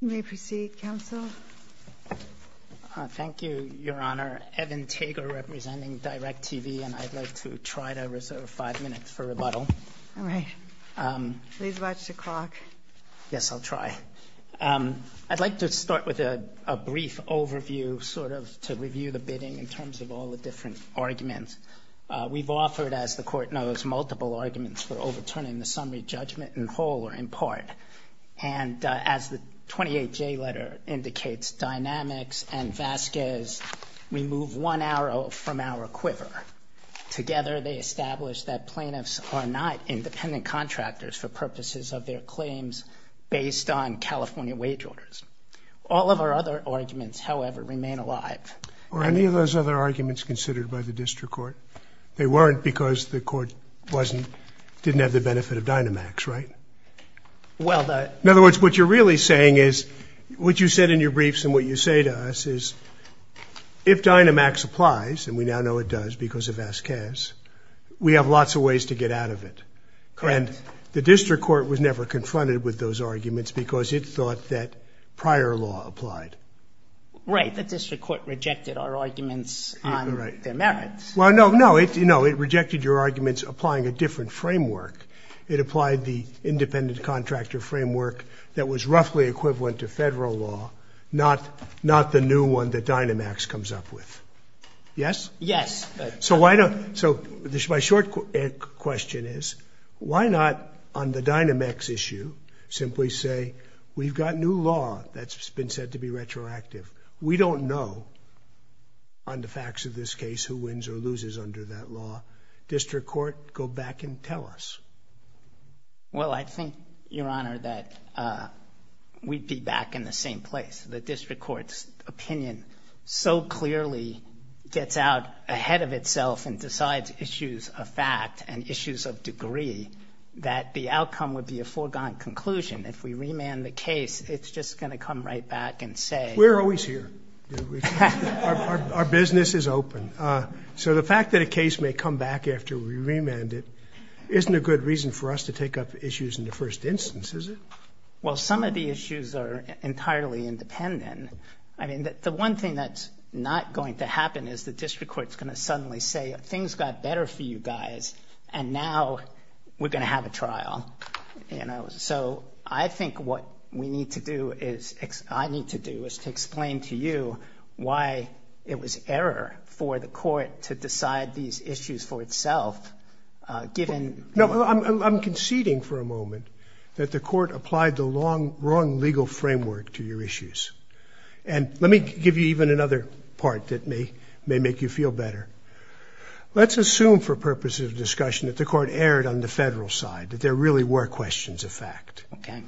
You may proceed, Counsel. Thank you, Your Honor. Evan Tager, representing DIRECTV, and I'd like to try to reserve five minutes for rebuttal. All right. Please watch the clock. Yes, I'll try. I'd like to start with a brief overview, sort of, to review the bidding in terms of all the different arguments. We've offered, as the Court knows, multiple arguments for overturning the summary judgment in whole or in part. And as the 28J letter indicates, dynamics and Vasquez remove one arrow from our quiver. Together, they establish that plaintiffs are not independent contractors for purposes of their claims based on California wage orders. All of our other arguments, however, remain alive. Were any of those other arguments considered by the District Court? They weren't because the Court didn't have the benefit of Dynamax, right? In other words, what you're really saying is, what you said in your briefs and what you say to us is, if Dynamax applies, and we now know it does because of Vasquez, we have lots of ways to get out of it. And the District Court was never confronted with those arguments because it thought that prior law applied. Right, the District Court rejected our arguments on their merits. Well, no, no, it rejected your arguments applying a different framework. It applied the independent contractor framework that was roughly equivalent to federal law, not the new one that Dynamax comes up with. Yes? Yes. So my short question is, why not, on the Dynamax issue, simply say, we've got new law that's been said to be retroactive. We don't know, on the facts of this case, who wins or loses under that law. District Court, go back and tell us. Well, I think, Your Honor, that we'd be back in the same place. The District Court's opinion so clearly gets out ahead of itself and decides issues of fact and issues of degree that the outcome would be a foregone conclusion. If we remand the case, it's just going to come right back and say— We're always here. Our business is open. So the fact that a case may come back after we remand it isn't a good reason for us to take up issues in the first instance, is it? Well, some of the issues are entirely independent. I mean, the one thing that's not going to happen is the District Court's going to suddenly say, things got better for you guys, and now we're going to have a trial. So I think what I need to do is to explain to you why it was error for the court to decide these issues for itself, given— No, I'm conceding for a moment that the court applied the wrong legal framework to your issues. And let me give you even another part that may make you feel better. Let's assume for purposes of discussion that the court erred on the federal side, that there really were questions of fact. Okay.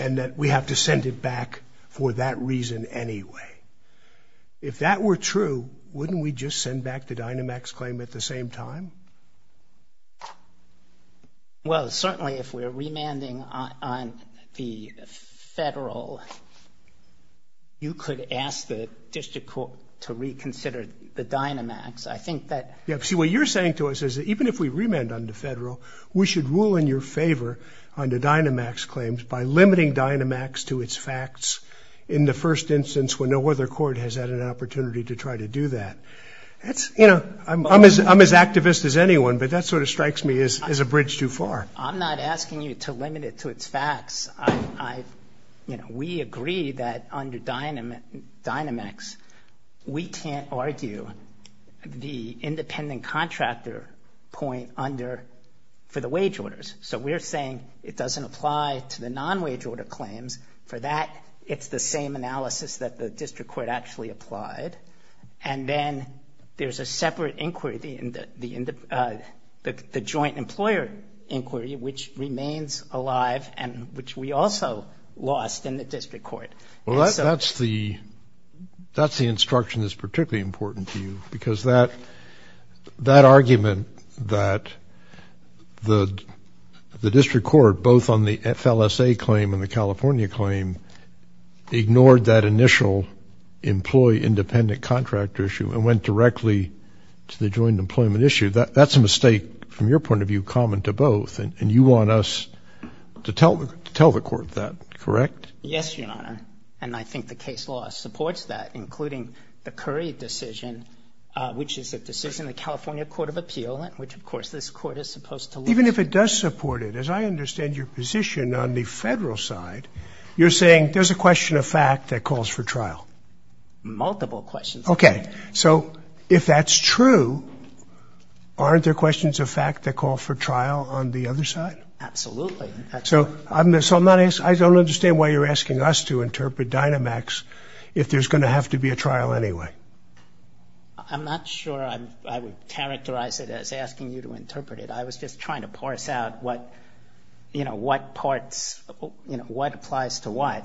And that we have to send it back for that reason anyway. If that were true, wouldn't we just send back the Dynamax claim at the same time? Well, certainly if we're remanding on the federal, you could ask the District Court to reconsider the Dynamax. I think that— See, what you're saying to us is that even if we remand on the federal, we should rule in your favor on the Dynamax claims by limiting Dynamax to its facts in the first instance when no other court has had an opportunity to try to do that. I'm as activist as anyone, but that sort of strikes me as a bridge too far. I'm not asking you to limit it to its facts. We agree that under Dynamax, we can't argue the independent contractor point for the wage orders. So we're saying it doesn't apply to the non-wage order claims. For that, it's the same analysis that the District Court actually applied. And then there's a separate inquiry, the joint employer inquiry, which remains alive and which we also lost in the District Court. Well, that's the instruction that's particularly important to you because that argument that the District Court, both on the FLSA claim and the California claim, ignored that initial employee independent contractor issue and went directly to the joint employment issue, that's a mistake from your point of view common to both. And you want us to tell the court that, correct? Yes, Your Honor. And I think the case law supports that, including the Curry decision, which is a decision the California Court of Appeal, which of course this court is supposed to look at. Even if it does support it, as I understand your position on the federal side, you're saying there's a question of fact that calls for trial. Multiple questions. Okay. So if that's true, aren't there questions of fact that call for trial on the other side? Absolutely. So I don't understand why you're asking us to interpret Dynamax if there's going to have to be a trial anyway. I'm not sure I would characterize it as asking you to interpret it. I was just trying to parse out what, you know, what parts, you know, what applies to what.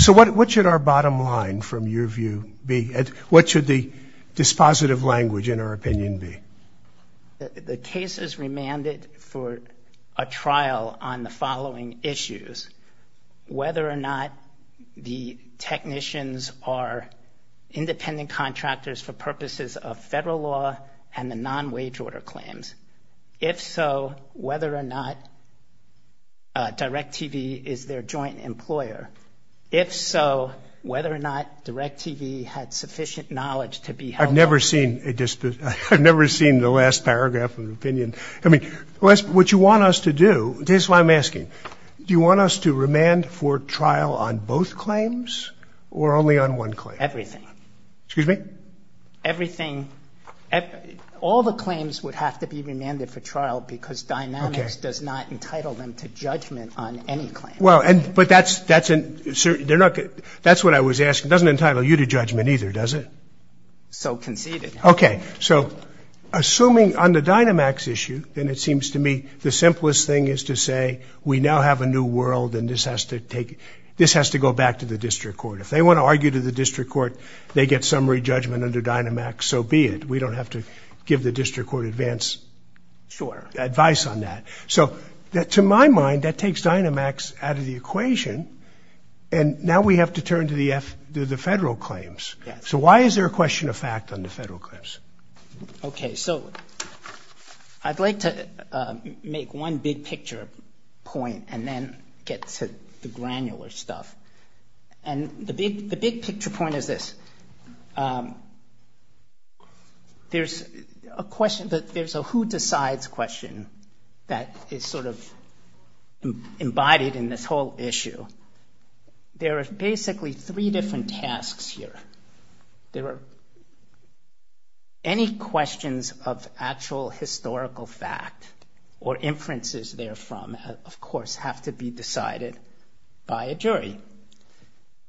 So what should our bottom line from your view be? What should the dispositive language in our opinion be? The case is remanded for a trial on the following issues. Whether or not the technicians are independent contractors for purposes of federal law and the non-wage order claims. If so, whether or not DirecTV is their joint employer. If so, whether or not DirecTV had sufficient knowledge to be held accountable. I've never seen the last paragraph of an opinion. I mean, what you want us to do, this is what I'm asking. Do you want us to remand for trial on both claims or only on one claim? Everything. Excuse me? Everything. All the claims would have to be remanded for trial because Dynamax does not entitle them to judgment on any claim. Well, but that's what I was asking. It doesn't entitle you to judgment either, does it? So conceded. Okay. So assuming on the Dynamax issue, then it seems to me the simplest thing is to say, we now have a new world and this has to go back to the district court. If they want to argue to the district court, they get summary judgment under Dynamax, so be it. We don't have to give the district court advance advice on that. So to my mind, that takes Dynamax out of the equation and now we have to turn to the federal claims. So why is there a question of fact on the federal claims? Okay. So I'd like to make one big picture point and then get to the granular stuff. And the big picture point is this. There's a question that there's a who decides question that is sort of embodied in this whole issue. There are basically three different tasks here. There are any questions of actual historical fact or inferences therefrom, of course, have to be decided by a jury.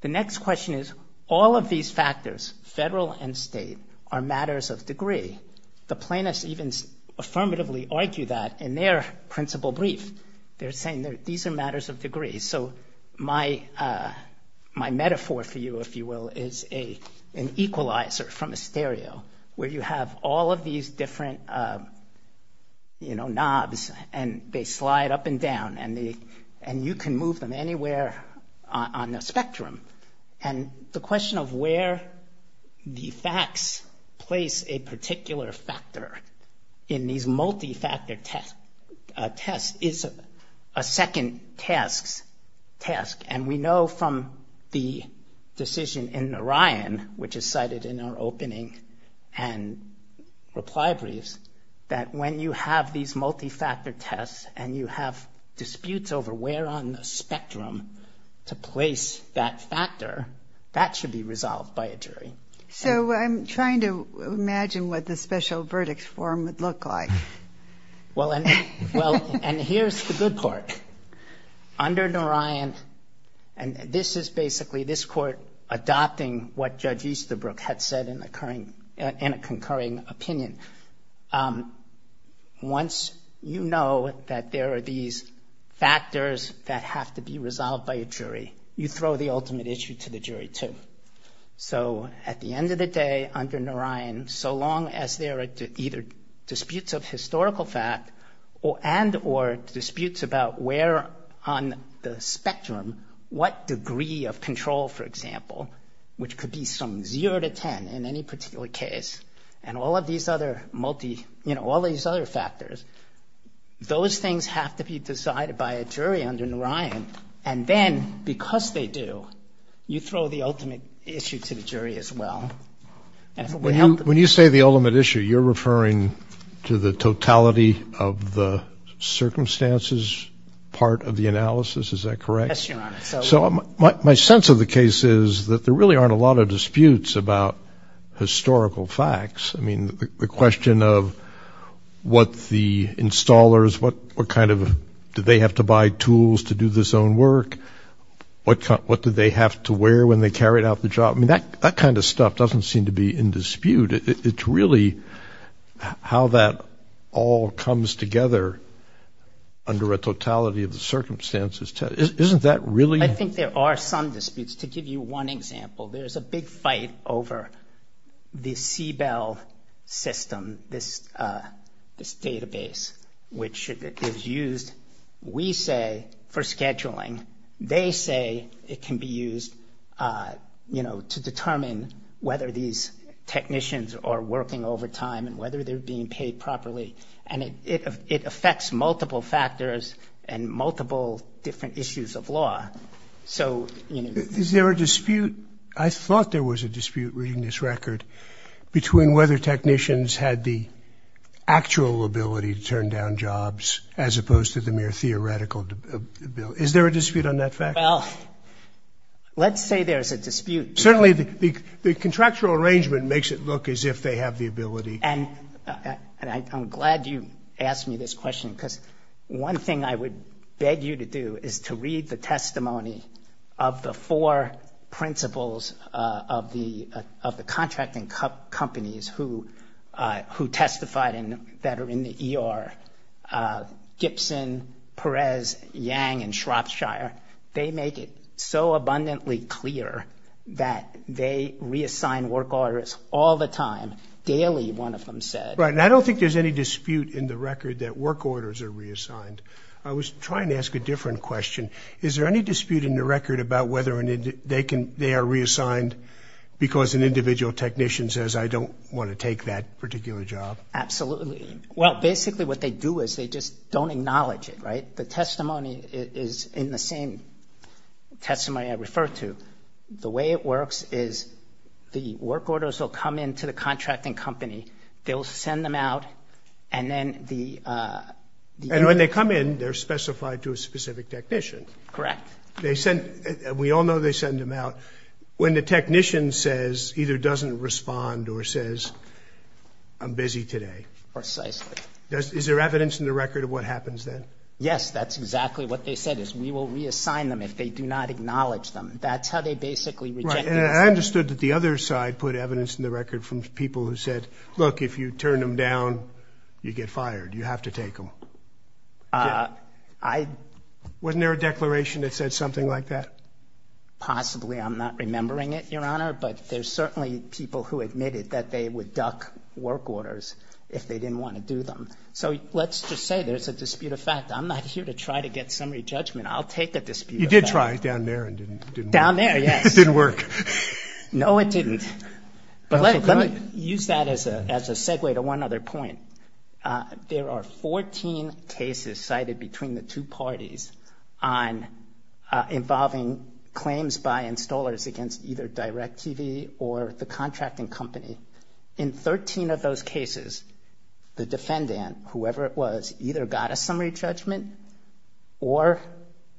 The next question is all of these factors, federal and state, are matters of degree. The plaintiffs even affirmatively argue that in their principle brief. They're saying these are matters of degree. So my metaphor for you, if you will, is an equalizer from a stereo where you have all of these different, you know, knobs and they slide up and down and you can move them anywhere on the spectrum. And the question of where the facts place a particular factor in these multifactor tests is a second task. And we know from the decision in Orion, which is cited in our opening and reply briefs, that when you have these multifactor tests and you have disputes over where on the spectrum to place that factor, that should be resolved by a jury. So I'm trying to imagine what the special verdict form would look like. Well, and here's the good part. Under Orion, and this is basically this court adopting what Judge Easterbrook had said in a concurring opinion. Once you know that there are these factors that have to be resolved by a jury, you throw the ultimate issue to the jury too. So at the end of the day, under Orion, so long as there are either disputes of historical fact and or disputes about where on the spectrum, what degree of control, for example, which could be some 0 to 10 in any particular case, and all of these other multi, you know, all these other factors, those things have to be decided by a jury under Orion. And then because they do, you throw the ultimate issue to the jury as well. When you say the ultimate issue, you're referring to the totality of the circumstances part of the analysis. Is that correct? Yes, Your Honor. So my sense of the case is that there really aren't a lot of disputes about historical facts. I mean, the question of what the installers, what kind of, did they have to buy tools to do this own work? What did they have to wear when they carried out the job? I mean, that kind of stuff doesn't seem to be in dispute. It's really how that all comes together under a totality of the circumstances. Isn't that really? I think there are some disputes. To give you one example, there's a big fight over the CBEL system, this database, which is used, we say, for scheduling. They say it can be used, you know, to determine whether these technicians are working overtime and whether they're being paid properly. And it affects multiple factors and multiple different issues of law. So, you know. Is there a dispute? I thought there was a dispute, reading this record, between whether technicians had the actual ability to turn down jobs as opposed to the mere theoretical ability. Is there a dispute on that fact? Well, let's say there's a dispute. Certainly, the contractual arrangement makes it look as if they have the ability. And I'm glad you asked me this question because one thing I would beg you to do is to read the testimony of the four principals of the contracting companies who testified and that are in the ER, Gibson, Perez, Yang, and Shropshire. They make it so abundantly clear that they reassign work orders all the time. Daily, one of them said. Right. And I don't think there's any dispute in the record that work orders are reassigned. I was trying to ask a different question. Is there any dispute in the record about whether they are reassigned because an individual technician says, I don't want to take that particular job? Absolutely. Well, basically what they do is they just don't acknowledge it, right? The testimony is in the same testimony I referred to. The way it works is the work orders will come in to the contracting company. They will send them out. And when they come in, they're specified to a specific technician. Correct. We all know they send them out. When the technician says, either doesn't respond or says, I'm busy today. Precisely. Is there evidence in the record of what happens then? Yes, that's exactly what they said is we will reassign them if they do not acknowledge them. That's how they basically reject the assignment. I understood that the other side put evidence in the record from people who said, look, if you turn them down, you get fired. You have to take them. Wasn't there a declaration that said something like that? Possibly. I'm not remembering it, Your Honor. But there's certainly people who admitted that they would duck work orders if they didn't want to do them. So let's just say there's a dispute of fact. I'm not here to try to get summary judgment. I'll take a dispute of fact. You did try it down there and it didn't work. Down there, yes. It didn't work. No, it didn't. But let me use that as a segue to one other point. There are 14 cases cited between the two parties on involving claims by installers against either DirecTV or the contracting company. In 13 of those cases, the defendant, whoever it was, either got a summary judgment or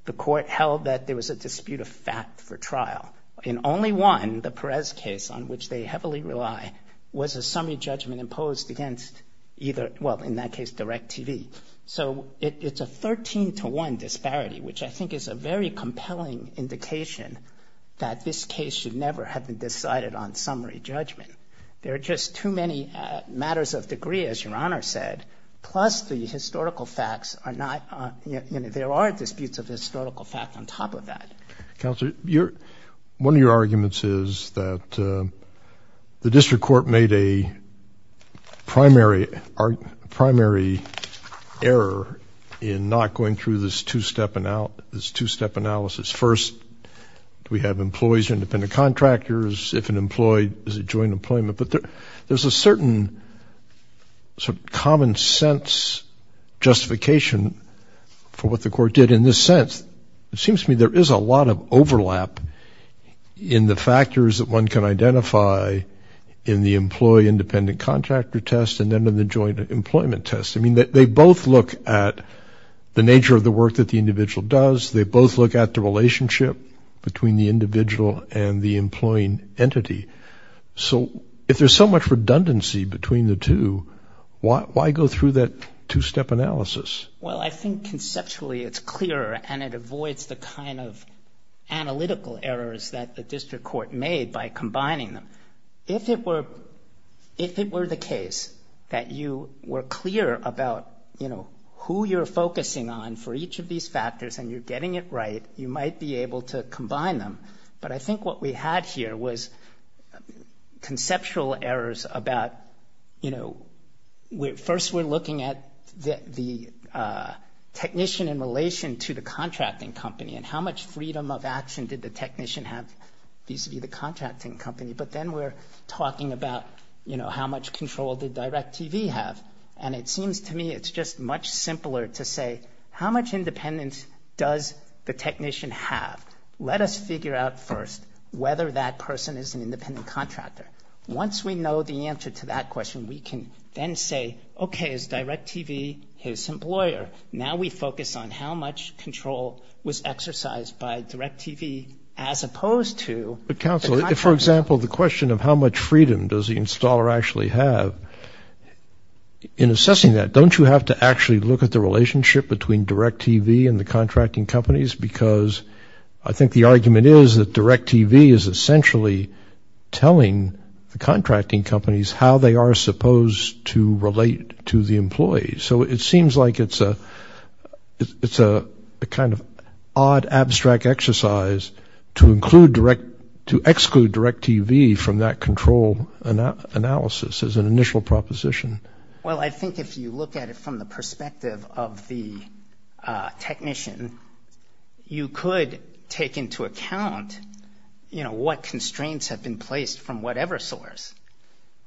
the court held that there was a dispute of fact for trial. In only one, the Perez case on which they heavily rely, was a summary judgment imposed against either, well, in that case, DirecTV. So it's a 13 to 1 disparity, which I think is a very compelling indication that this case should never have been decided on summary judgment. There are just too many matters of degree, as Your Honor said, plus the historical facts are not, you know, there are disputes of historical fact on top of that. Counselor, one of your arguments is that the district court made a primary error in not going through this two-step analysis. First, do we have employees or independent contractors? If an employee, is it joint employment? But there's a certain common sense justification for what the court did in this sense. It seems to me there is a lot of overlap in the factors that one can identify in the employee-independent contractor test and then in the joint employment test. I mean, they both look at the nature of the work that the individual does. They both look at the relationship between the individual and the employing entity. So if there's so much redundancy between the two, why go through that two-step analysis? Well, I think conceptually it's clearer and it avoids the kind of analytical errors that the district court made by combining them. If it were the case that you were clear about, you know, who you're focusing on for each of these factors and you're getting it right, you might be able to combine them. But I think what we had here was conceptual errors about, you know, first we're looking at the technician in relation to the contracting company and how much freedom of action did the technician have vis-à-vis the contracting company. But then we're talking about, you know, how much control did DirecTV have? And it seems to me it's just much simpler to say, how much independence does the technician have? Let us figure out first whether that person is an independent contractor. Once we know the answer to that question, we can then say, okay, is DirecTV his employer? Now we focus on how much control was exercised by DirecTV as opposed to the contracting company. But counsel, for example, the question of how much freedom does the installer actually have, in assessing that, don't you have to actually look at the relationship between DirecTV and the contracting companies? Because I think the argument is that DirecTV is essentially telling the contracting companies how they are supposed to relate to the employees. So it seems like it's a kind of odd, abstract exercise to exclude DirecTV from that control analysis as an initial proposition. Well, I think if you look at it from the perspective of the technician, you could take into account, you know, what constraints have been placed from whatever source.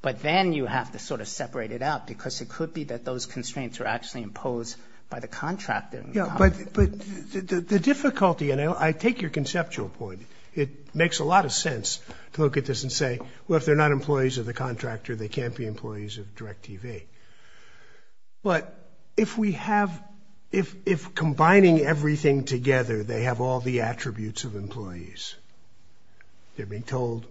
But then you have to sort of separate it out, because it could be that those constraints are actually imposed by the contractor. Yeah, but the difficulty, and I take your conceptual point, it makes a lot of sense to look at this and say, well, if they're not employees of the contractor, they can't be employees of DirecTV. But if we have, if combining everything together, they have all the attributes of employees, they're being told,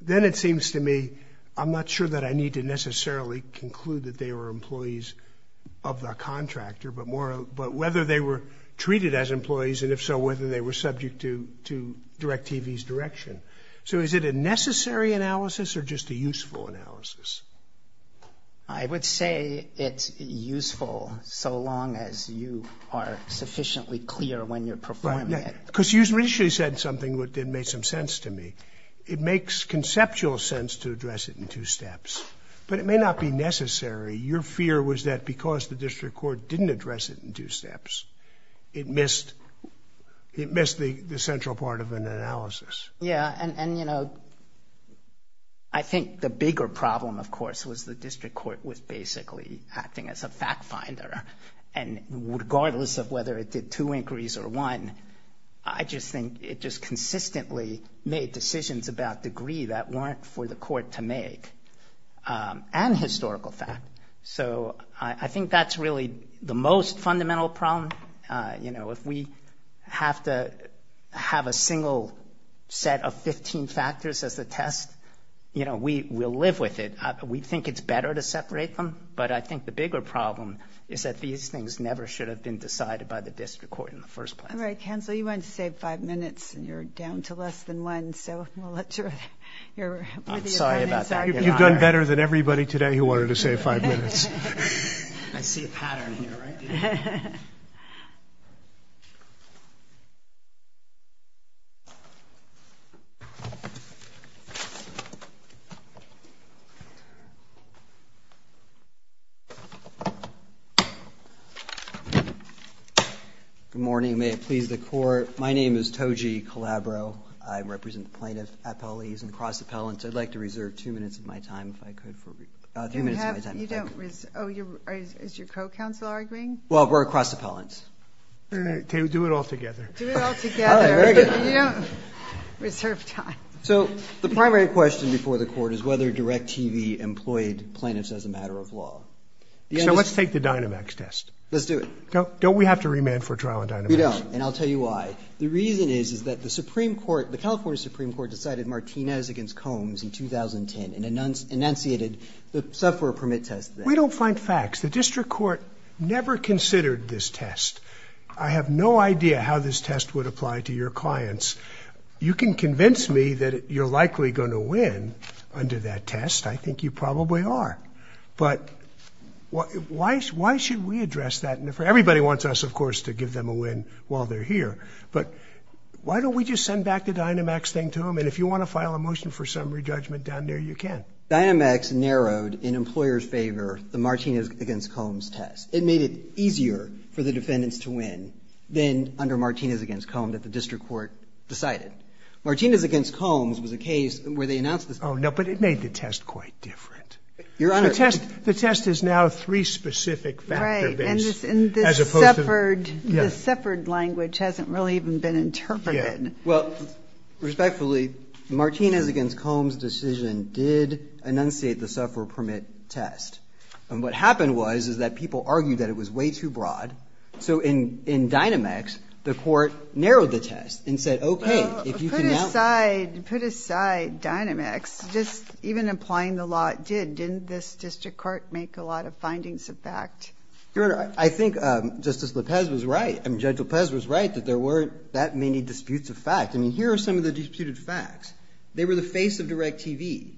then it seems to me, I'm not sure that I need to necessarily conclude that they were employees of the contractor, but whether they were treated as employees, and if so, whether they were subject to DirecTV's direction. So is it a necessary analysis or just a useful analysis? I would say it's useful so long as you are sufficiently clear when you're performing it. Because you initially said something that made some sense to me. It makes conceptual sense to address it in two steps, but it may not be necessary. Your fear was that because the district court didn't address it in two steps, it missed the central part of an analysis. Yeah, and, you know, I think the bigger problem, of course, was the district court was basically acting as a fact finder. And regardless of whether it did two inquiries or one, I just think it just consistently made decisions about degree that weren't for the court to make, and historical fact. So I think that's really the most fundamental problem. You know, if we have to have a single set of 15 factors as a test, you know, we'll live with it. We think it's better to separate them, but I think the bigger problem is that these things never should have been decided by the district court in the first place. All right. Cancel. You wanted to save five minutes, and you're down to less than one, so we'll let you. I'm sorry about that. You've done better than everybody today who wanted to save five minutes. I see a pattern here, right? Good morning. May it please the Court. My name is Toji Calabro. I represent the plaintiff at Pelleys and across the Pellants. I'd like to reserve two minutes of my time, if I could, for review. Oh, is your co-counsel arguing? Well, we're across the Pellants. Do it all together. Do it all together, but you don't reserve time. So the primary question before the Court is whether DIRECTV employed plaintiffs as a matter of law. So let's take the Dynamax test. Let's do it. Don't we have to remand for trial on Dynamax? We don't, and I'll tell you why. The reason is that the Supreme Court, the California Supreme Court, decided Martinez against Combs in 2010 and enunciated the software permit test. We don't find facts. The district court never considered this test. I have no idea how this test would apply to your clients. You can convince me that you're likely going to win under that test. I think you probably are. But why should we address that? Everybody wants us, of course, to give them a win while they're here. But why don't we just send back the Dynamax thing to them? And if you want to file a motion for summary judgment down there, you can. Dynamax narrowed in employers' favor the Martinez against Combs test. It made it easier for the defendants to win than under Martinez against Combs that the district court decided. Martinez against Combs was a case where they announced this. Oh, no, but it made the test quite different. Your Honor. The test is now three-specific factor-based. The suffered language hasn't really even been interpreted. Well, respectfully, Martinez against Combs decision did enunciate the software permit test. And what happened was is that people argued that it was way too broad. So in Dynamax, the court narrowed the test and said, okay, if you can now. Put aside Dynamax. Just even applying the law, it did. Didn't this district court make a lot of findings of fact? Your Honor, I think Justice Lopez was right. I mean, Judge Lopez was right that there weren't that many disputes of fact. I mean, here are some of the disputed facts. They were the face of DirecTV.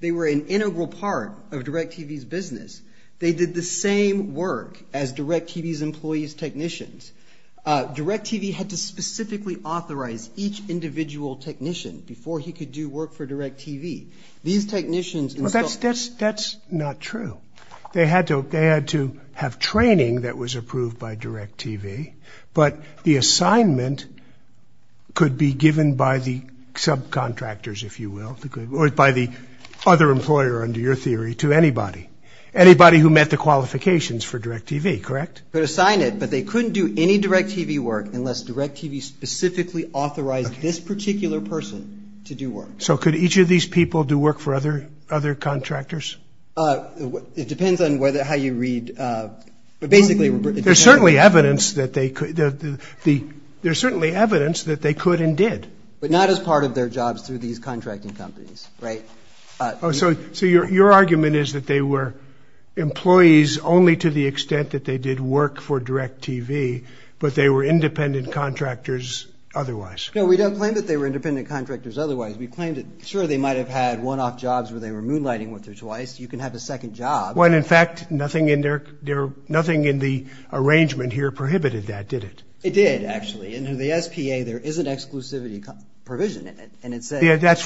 They were an integral part of DirecTV's business. They did the same work as DirecTV's employees' technicians. DirecTV had to specifically authorize each individual technician before he could do work for DirecTV. These technicians. That's not true. They had to have training that was approved by DirecTV, but the assignment could be given by the subcontractors, if you will, or by the other employer under your theory to anybody. Anybody who met the qualifications for DirecTV, correct? Could assign it, but they couldn't do any DirecTV work unless DirecTV specifically authorized this particular person to do work. So could each of these people do work for other contractors? It depends on how you read. There's certainly evidence that they could and did. But not as part of their jobs through these contracting companies, right? So your argument is that they were employees only to the extent that they did work for DirecTV, but they were independent contractors otherwise. No, we don't claim that they were independent contractors otherwise. We claim that, sure, they might have had one-off jobs where they were moonlighting once or twice. You can have a second job. Well, in fact, nothing in the arrangement here prohibited that, did it? It did, actually. In the SPA, there is an exclusivity provision in it, and it says that. Yeah, that's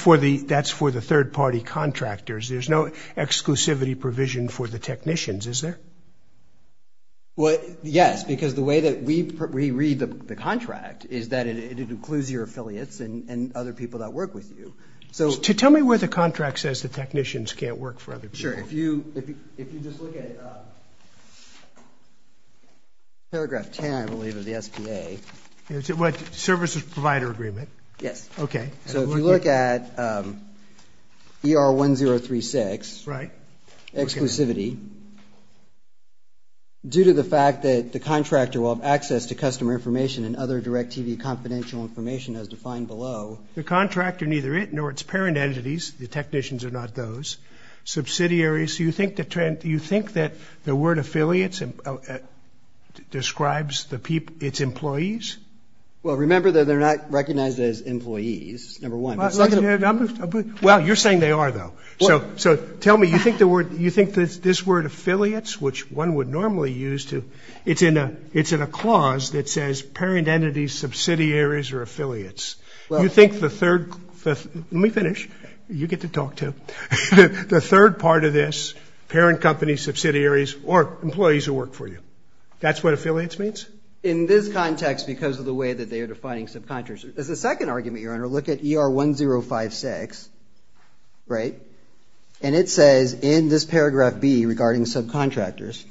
for the third-party contractors. There's no exclusivity provision for the technicians, is there? Well, yes, because the way that we read the contract is that it includes your affiliates and other people that work with you. Tell me where the contract says the technicians can't work for other people. Sure. If you just look at paragraph 10, I believe, of the SPA. What, services provider agreement? Yes. Okay. So if you look at ER1036, exclusivity, due to the fact that the contractor will have access to customer information and other DirecTV confidential information as defined below. The contractor, neither it nor its parent entities, the technicians are not those, subsidiaries. Do you think that the word affiliates describes its employees? Well, remember that they're not recognized as employees, number one. Well, you're saying they are, though. So tell me, you think this word affiliates, which one would normally use to – it's in a clause that says parent entities, subsidiaries, or affiliates. You think the third – let me finish. You get to talk, too. The third part of this, parent companies, subsidiaries, or employees who work for you, that's what affiliates means? In this context, because of the way that they are defining subcontractors. As a second argument, Your Honor, look at ER1056, right, and it says in this paragraph B regarding subcontractors,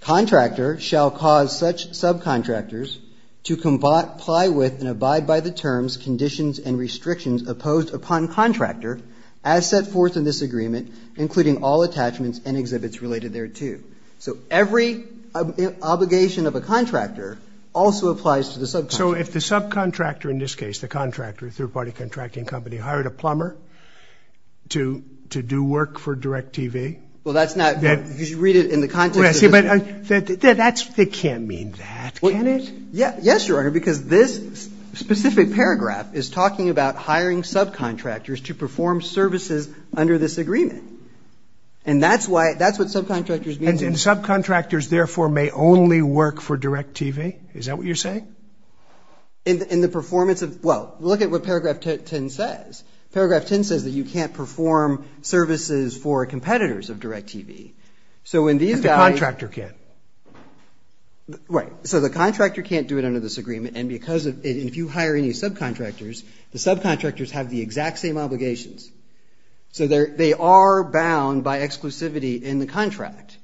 contractor shall cause such subcontractors to comply with and abide by the terms, conditions, and restrictions opposed upon contractor as set forth in this agreement, including all attachments and exhibits related thereto. So every obligation of a contractor also applies to the subcontractor. So if the subcontractor in this case, the contractor, third-party contracting company, hired a plumber to do work for DirecTV? Well, that's not – you should read it in the context of this. That's – they can't mean that, can it? Yes, Your Honor, because this specific paragraph is talking about hiring subcontractors to perform services under this agreement. And that's why – that's what subcontractors mean. And subcontractors, therefore, may only work for DirecTV? Is that what you're saying? In the performance of – well, look at what paragraph 10 says. Paragraph 10 says that you can't perform services for competitors of DirecTV. So when these guys – But the contractor can. Right. So the contractor can't do it under this agreement, and because of – if you hire any subcontractors, the subcontractors have the exact same obligations. So they are bound by exclusivity in the contract.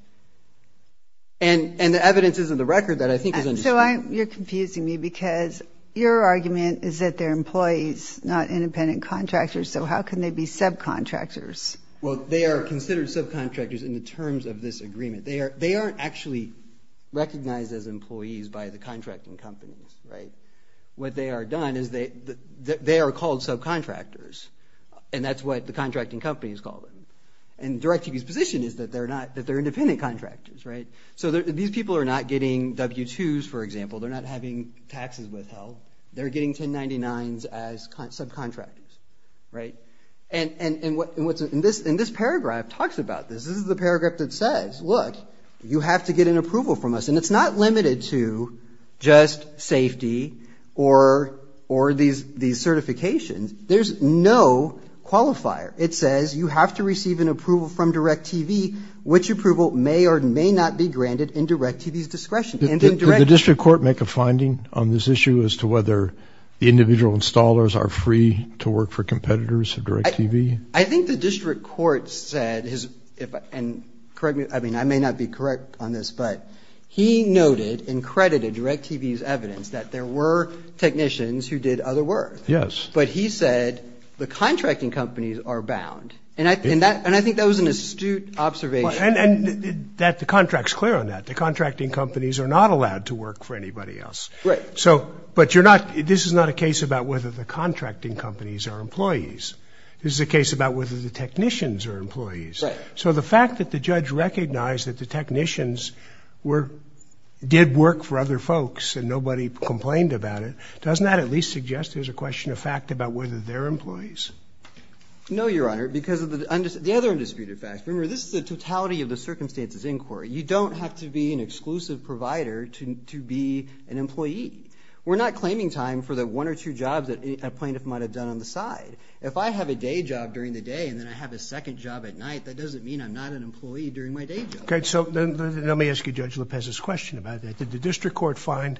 And the evidence isn't the record that I think is understood. So you're confusing me because your argument is that they're employees, not independent contractors, so how can they be subcontractors? Well, they are considered subcontractors in the terms of this agreement. They aren't actually recognized as employees by the contracting companies, right? What they are done is they are called subcontractors, and that's what the contracting companies call them. And DirecTV's position is that they're independent contractors, right? So these people are not getting W-2s, for example. They're not having taxes withheld. They're getting 1099s as subcontractors, right? And what's – and this paragraph talks about this. This is the paragraph that says, look, you have to get an approval from us. And it's not limited to just safety or these certifications. There's no qualifier. It says you have to receive an approval from DirecTV, which approval may or may not be granted in DirecTV's discretion. Did the district court make a finding on this issue as to whether the individual installers are free to work for competitors of DirecTV? I think the district court said – and correct me, I mean, I may not be correct on this, but he noted and credited DirecTV's evidence that there were technicians who did other work. Yes. But he said the contracting companies are bound. And I think that was an astute observation. And the contract's clear on that. The contracting companies are not allowed to work for anybody else. Right. So – but you're not – this is not a case about whether the contracting companies are employees. This is a case about whether the technicians are employees. Right. So the fact that the judge recognized that the technicians did work for other folks and nobody complained about it, doesn't that at least suggest there's a question of fact about whether they're employees? No, Your Honor, because of the other undisputed facts. Remember, this is the totality of the circumstances inquiry. You don't have to be an exclusive provider to be an employee. We're not claiming time for the one or two jobs that a plaintiff might have done on the side. If I have a day job during the day and then I have a second job at night, that doesn't mean I'm not an employee during my day job. Okay. So let me ask you Judge Lopez's question about that. Did the district court find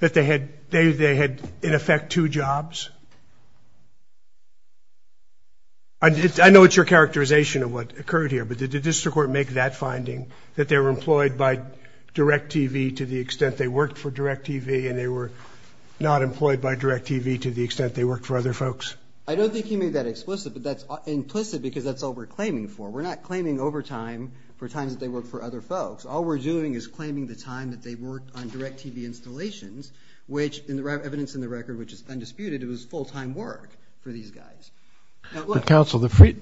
that they had, in effect, two jobs? I know it's your characterization of what occurred here, but did the district court make that finding, that they were employed by DirecTV to the extent they worked for DirecTV and they were not employed by DirecTV to the extent they worked for other folks? I don't think he made that explicit, but that's implicit because that's all we're claiming for. We're not claiming overtime for times that they worked for other folks. All we're doing is claiming the time that they worked on DirecTV installations, which in the evidence in the record, which is undisputed, it was full-time work for these guys. Counsel, I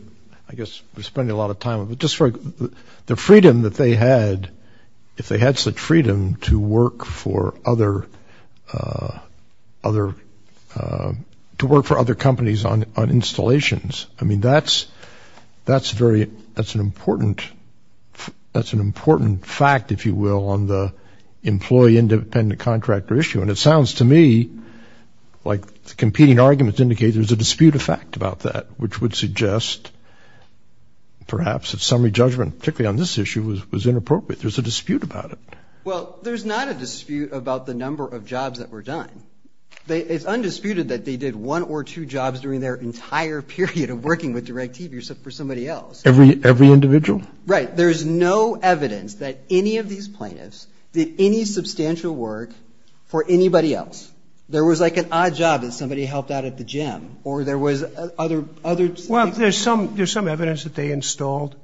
guess we're spending a lot of time, the freedom that they had, if they had such freedom, to work for other companies on installations. I mean, that's an important fact, if you will, on the employee-independent-contractor issue, and it sounds to me like the competing arguments indicate there's a dispute of fact about that, which would suggest perhaps that summary judgment, particularly on this issue, was inappropriate. There's a dispute about it. Well, there's not a dispute about the number of jobs that were done. It's undisputed that they did one or two jobs during their entire period of working with DirecTV for somebody else. Every individual? Right. There's no evidence that any of these plaintiffs did any substantial work for anybody else. There was, like, an odd job that somebody helped out at the gym, or there was other people. Well, there's some evidence that they installed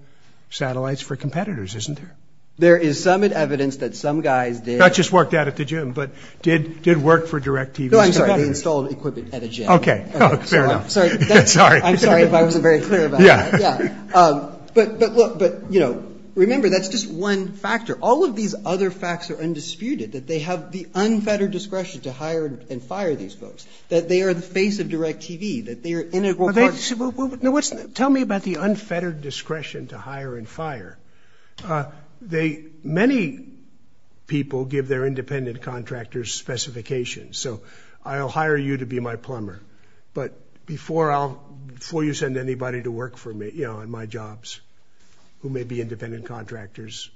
satellites for competitors, isn't there? There is some evidence that some guys did. Not just worked out at the gym, but did work for DirecTV. No, I'm sorry. They installed equipment at a gym. Okay. Fair enough. Sorry. I'm sorry if I wasn't very clear about that. Yeah. Yeah. But, look, but, you know, remember, that's just one factor. All of these other facts are undisputed, that they have the unfettered discretion to hire and fire these folks, that they are the face of DirecTV, that they are integral partners. Tell me about the unfettered discretion to hire and fire. Many people give their independent contractors specifications. So I'll hire you to be my plumber, but before you send anybody to work for me, you know, on my jobs, who may be independent contractors,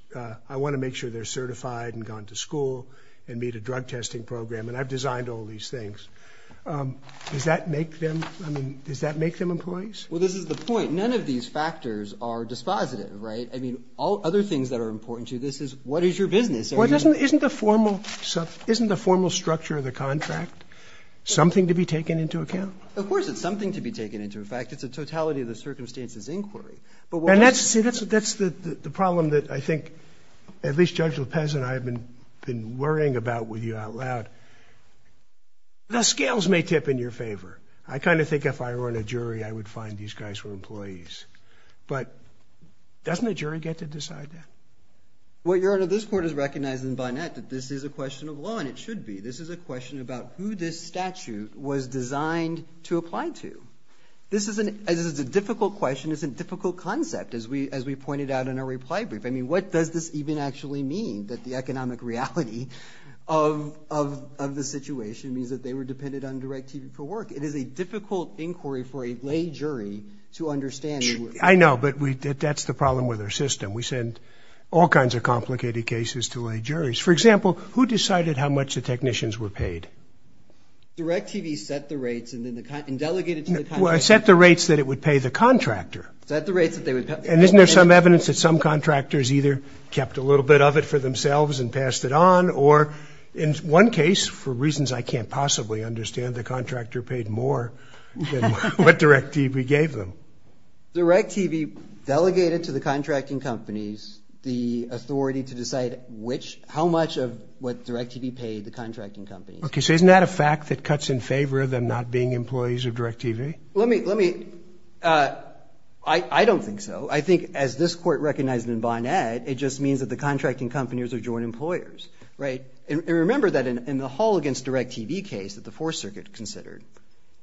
I want to make sure they're certified and gone to school and meet a drug testing program, and I've designed all these things. Does that make them employees? Well, this is the point. None of these factors are dispositive, right? I mean, all other things that are important to you, this is what is your business? Isn't the formal structure of the contract something to be taken into account? Of course it's something to be taken into account. In fact, it's a totality of the circumstances inquiry. See, that's the problem that I think at least Judge Lopez and I have been worrying about with you out loud. The scales may tip in your favor. I kind of think if I were in a jury, I would find these guys were employees. But doesn't a jury get to decide that? Well, Your Honor, this Court is recognizing by now that this is a question of law, and it should be. This is a question about who this statute was designed to apply to. This is a difficult question. It's a difficult concept, as we pointed out in our reply brief. I mean, what does this even actually mean, that the economic reality of the situation means that they were dependent on direct TV for work? It is a difficult inquiry for a lay jury to understand. I know, but that's the problem with our system. We send all kinds of complicated cases to lay juries. For example, who decided how much the technicians were paid? Direct TV set the rates and delegated to the company. Well, it set the rates that it would pay the contractor. Set the rates that they would pay. And isn't there some evidence that some contractors either kept a little bit of it for themselves and passed it on, or in one case, for reasons I can't possibly understand, the contractor paid more than what direct TV gave them. Direct TV delegated to the contracting companies the authority to decide which, how much of what direct TV paid the contracting companies. Okay, so isn't that a fact that cuts in favor of them not being employees of direct TV? Let me, let me, I don't think so. I think, as this Court recognized in Bonnet, it just means that the contracting companies are joint employers, right? And remember that in the Hall against direct TV case that the Fourth Circuit considered,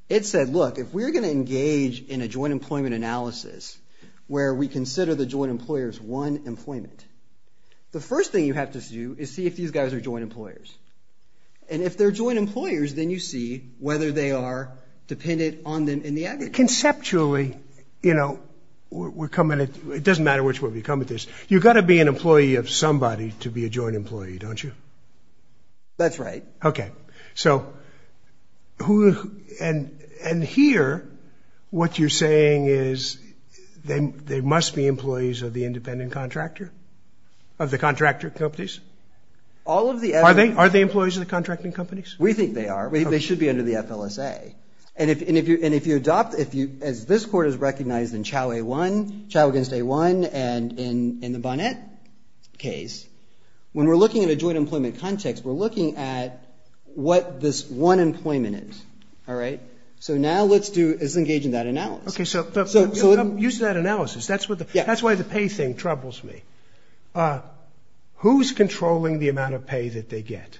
it said, look, if we're going to engage in a joint employment analysis where we consider the joint employers one employment, the first thing you have to do is see if these guys are joint employers. And if they're joint employers, then you see whether they are dependent on them in the aggregate. Conceptually, you know, we're coming at, it doesn't matter which way we come at this, you've got to be an employee of somebody to be a joint employee, don't you? That's right. Okay, so who, and, and here what you're saying is they, they must be employees of the independent contractor, of the contractor companies? All of the F- Are they, are they employees of the contracting companies? We think they are. They should be under the FLSA. And if, and if you, and if you adopt, if you, as this Court has recognized in Chau A-1, Chau against A-1 and in, in the Bonnet case, when we're looking at a joint employment context, we're looking at what this one employment is. All right? So now let's do, is engage in that analysis. Okay, so, so, so use that analysis. That's what the, that's why the pay thing troubles me. Who's controlling the amount of pay that they get?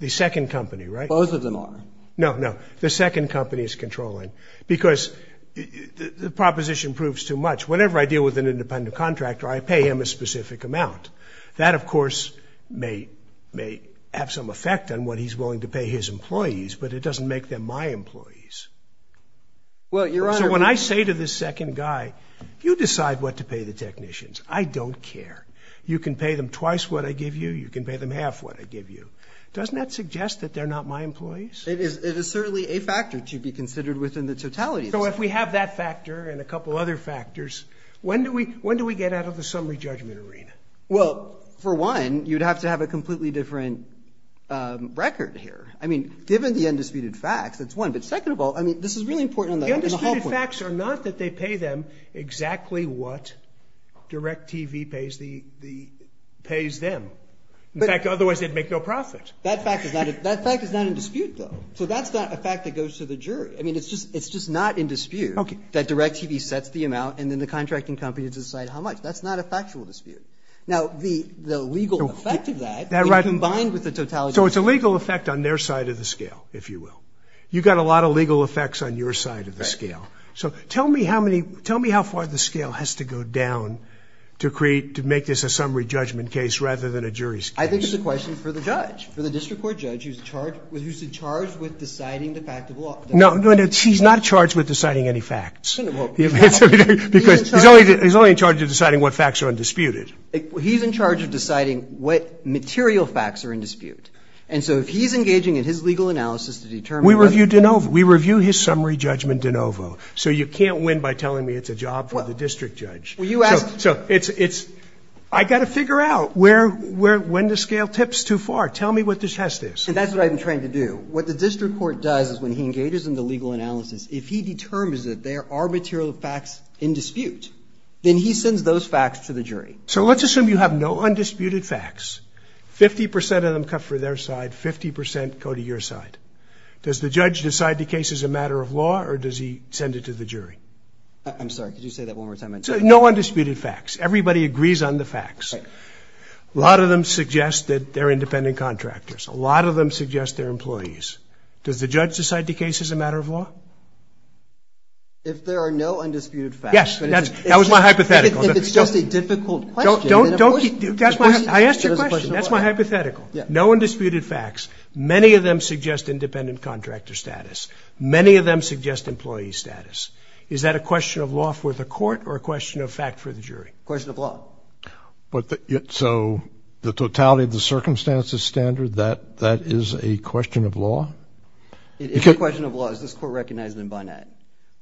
The second company, right? Both of them are. No, no. The second company is controlling. Because the proposition proves too much. Whenever I deal with an independent contractor, I pay him a specific amount. That, of course, may, may have some effect on what he's willing to pay his employees. But it doesn't make them my employees. Well, Your Honor- So when I say to this second guy, you decide what to pay the technicians. I don't care. You can pay them twice what I give you. You can pay them half what I give you. Doesn't that suggest that they're not my employees? It is, it is certainly a factor to be considered within the totality. So if we have that factor and a couple other factors, when do we, when do we get out of the summary judgment arena? Well, for one, you'd have to have a completely different record here. I mean, given the undisputed facts, that's one. But second of all, I mean, this is really important on the- The undisputed facts are not that they pay them exactly what DirecTV pays the, pays them. In fact, otherwise they'd make no profit. That fact is not, that fact is not in dispute, though. So that's not a fact that goes to the jury. Okay. And then the contracting company has to decide how much. That's not a factual dispute. Now, the legal effect of that, combined with the totality- So it's a legal effect on their side of the scale, if you will. You've got a lot of legal effects on your side of the scale. So tell me how many, tell me how far the scale has to go down to create, to make this a summary judgment case rather than a jury's case. I think it's a question for the judge, for the district court judge who's charged, who's charged with deciding the fact of law. No, no, no, she's not charged with deciding any facts. Because he's only, he's only in charge of deciding what facts are undisputed. He's in charge of deciding what material facts are in dispute. And so if he's engaging in his legal analysis to determine- We review DeNovo. We review his summary judgment DeNovo. So you can't win by telling me it's a job for the district judge. Well, you asked- So it's, it's, I've got to figure out where, where, when the scale tips too far. Tell me what the test is. And that's what I've been trying to do. What the district court does is when he engages in the legal analysis, if he determines that there are material facts in dispute, then he sends those facts to the jury. So let's assume you have no undisputed facts. Fifty percent of them cut for their side. Fifty percent go to your side. Does the judge decide the case is a matter of law or does he send it to the jury? I'm sorry, could you say that one more time? No undisputed facts. Everybody agrees on the facts. Right. A lot of them suggest that they're independent contractors. A lot of them suggest they're employees. Does the judge decide the case is a matter of law? If there are no undisputed facts- Yes, that's, that was my hypothetical. If it's just a difficult question- Don't, don't, that's my, I asked your question. That's my hypothetical. No undisputed facts. Many of them suggest independent contractor status. Many of them suggest employee status. Is that a question of law for the court or a question of fact for the jury? Question of law. So the totality of the circumstances standard, that, that is a question of law? It's a question of law. Is this court recognizing it by that?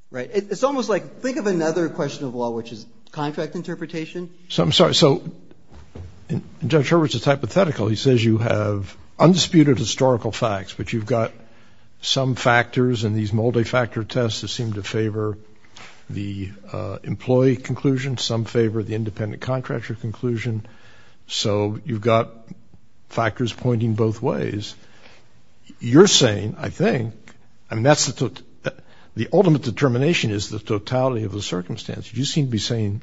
Right. It's almost like, think of another question of law, which is contract interpretation. So I'm sorry. So Judge Hurwitz is hypothetical. He says you have undisputed historical facts, but you've got some factors in these multi-factor tests that seem to favor the employee conclusion. Some favor the independent contractor conclusion. So you've got factors pointing both ways. You're saying, I think, I mean that's the, the ultimate determination is the totality of the circumstances. You seem to be saying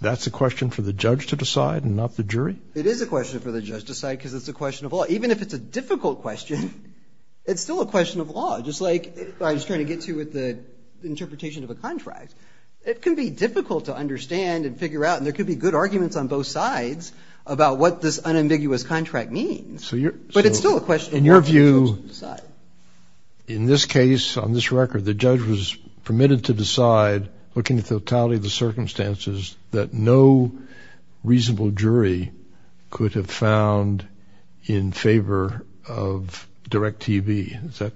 that's a question for the judge to decide and not the jury? It is a question for the judge to decide because it's a question of law. Even if it's a difficult question, it's still a question of law. Just like I was trying to get to with the interpretation of a contract. It can be difficult to understand and figure out, and there could be good arguments on both sides about what this unambiguous contract means. But it's still a question of law for the judge to decide. In your view, in this case, on this record, the judge was permitted to decide, looking at the totality of the circumstances, that no reasonable jury could have found in favor of Direct TV.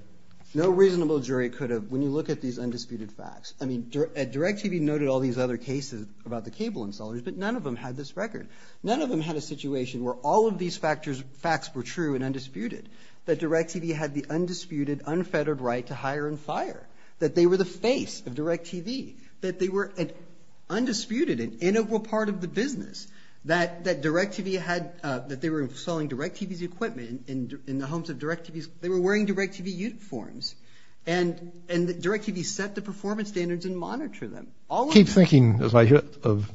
No reasonable jury could have. When you look at these undisputed facts, I mean, Direct TV noted all these other cases about the cable installers, but none of them had this record. None of them had a situation where all of these facts were true and undisputed. That Direct TV had the undisputed, unfettered right to hire and fire. That they were the face of Direct TV. That they were an undisputed and integral part of the business. That Direct TV had, that they were selling Direct TV's equipment in the homes of Direct TV's, they were wearing Direct TV uniforms. And Direct TV set the performance standards and monitored them. All of them. I keep thinking, as I hear of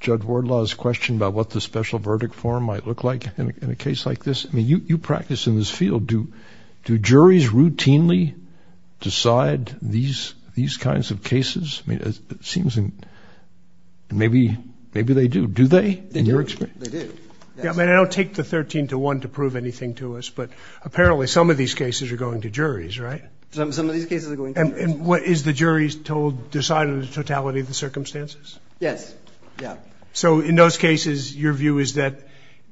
Judge Wardlaw's question about what the special verdict form might look like in a case like this. I mean, you practice in this field. Do juries routinely decide these kinds of cases? I mean, it seems, and maybe they do. Do they? They do. They do. I mean, I don't take the 13 to 1 to prove anything to us. But apparently some of these cases are going to juries, right? Some of these cases are going to juries. And what, is the jury's told, decided the totality of the circumstances? Yes. Yeah. So in those cases, your view is that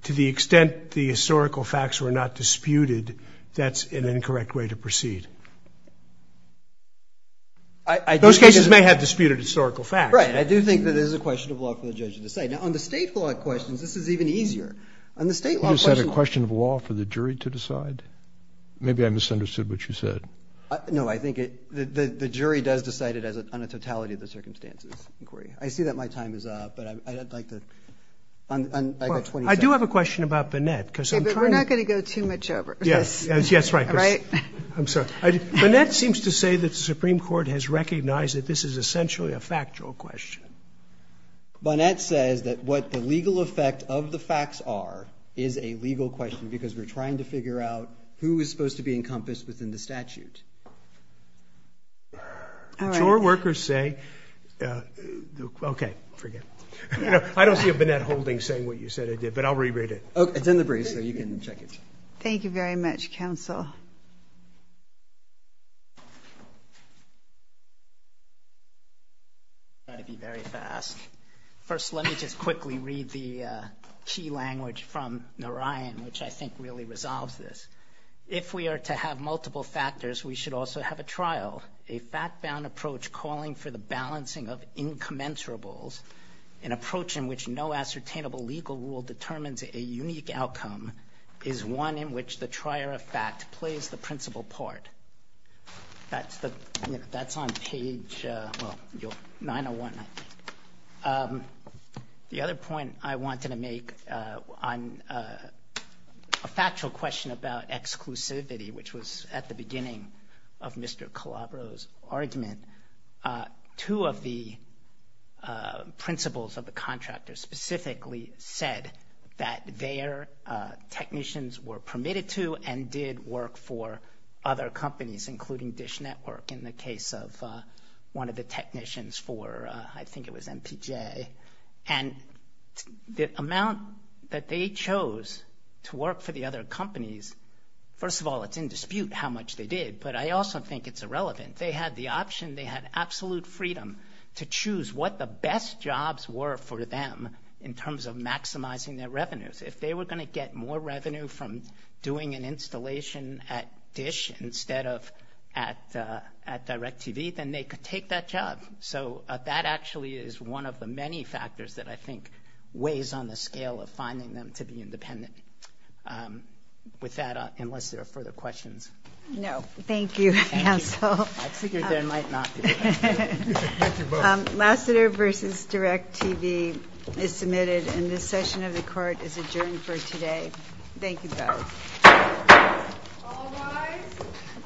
to the extent the historical facts were not disputed, that's an incorrect way to proceed. I do think. Those cases may have disputed historical facts. Right. I do think that it is a question of law for the judge to decide. Now, on the state law questions, this is even easier. On the state law questions. Did you just say it's a question of law for the jury to decide? Maybe I misunderstood what you said. No, I think the jury does decide it on a totality of the circumstances. I see that my time is up, but I'd like to. I do have a question about Bonnett. Okay, but we're not going to go too much over this. Yes. That's right. Right? I'm sorry. Bonnett seems to say that the Supreme Court has recognized that this is essentially a factual question. Bonnett says that what the legal effect of the facts are is a legal question because we're trying to figure out who is supposed to be encompassed within the statute. All right. Sure, workers say, okay, forget it. I don't see a Bonnett holding saying what you said it did, but I'll re-read it. Okay. It's in the briefs, so you can check it. Thank you very much, counsel. I'm going to try to be very fast. First, let me just quickly read the key language from Narayan, which I think really resolves this. If we are to have multiple factors, we should also have a trial. A fact-bound approach calling for the balancing of incommensurables, an approach in which no ascertainable legal rule determines a unique outcome is one in which the trier of fact plays the principal part. That's on page 901, I think. The other point I wanted to make on a factual question about exclusivity, which was at the beginning of Mr. Calabro's argument, two of the principals of the contractors specifically said that their technicians were permitted to and did work for other companies, including Dish Network in the case of one of the technicians for, I think it was MPJ. And the amount that they chose to work for the other companies, first of all, it's in dispute how much they did, but I also think it's irrelevant. They had the option, they had absolute freedom to choose what the best jobs were for them in terms of maximizing their revenues. If they were going to get more revenue from doing an installation at Dish instead of at DirecTV, then they could take that job. So that actually is one of the many factors that I think weighs on the scale of finding them to be independent. With that, unless there are further questions. No. Thank you, counsel. I figured they might not. Lasseter versus DirecTV is submitted, and this session of the court is adjourned for today. Thank you both. All rise.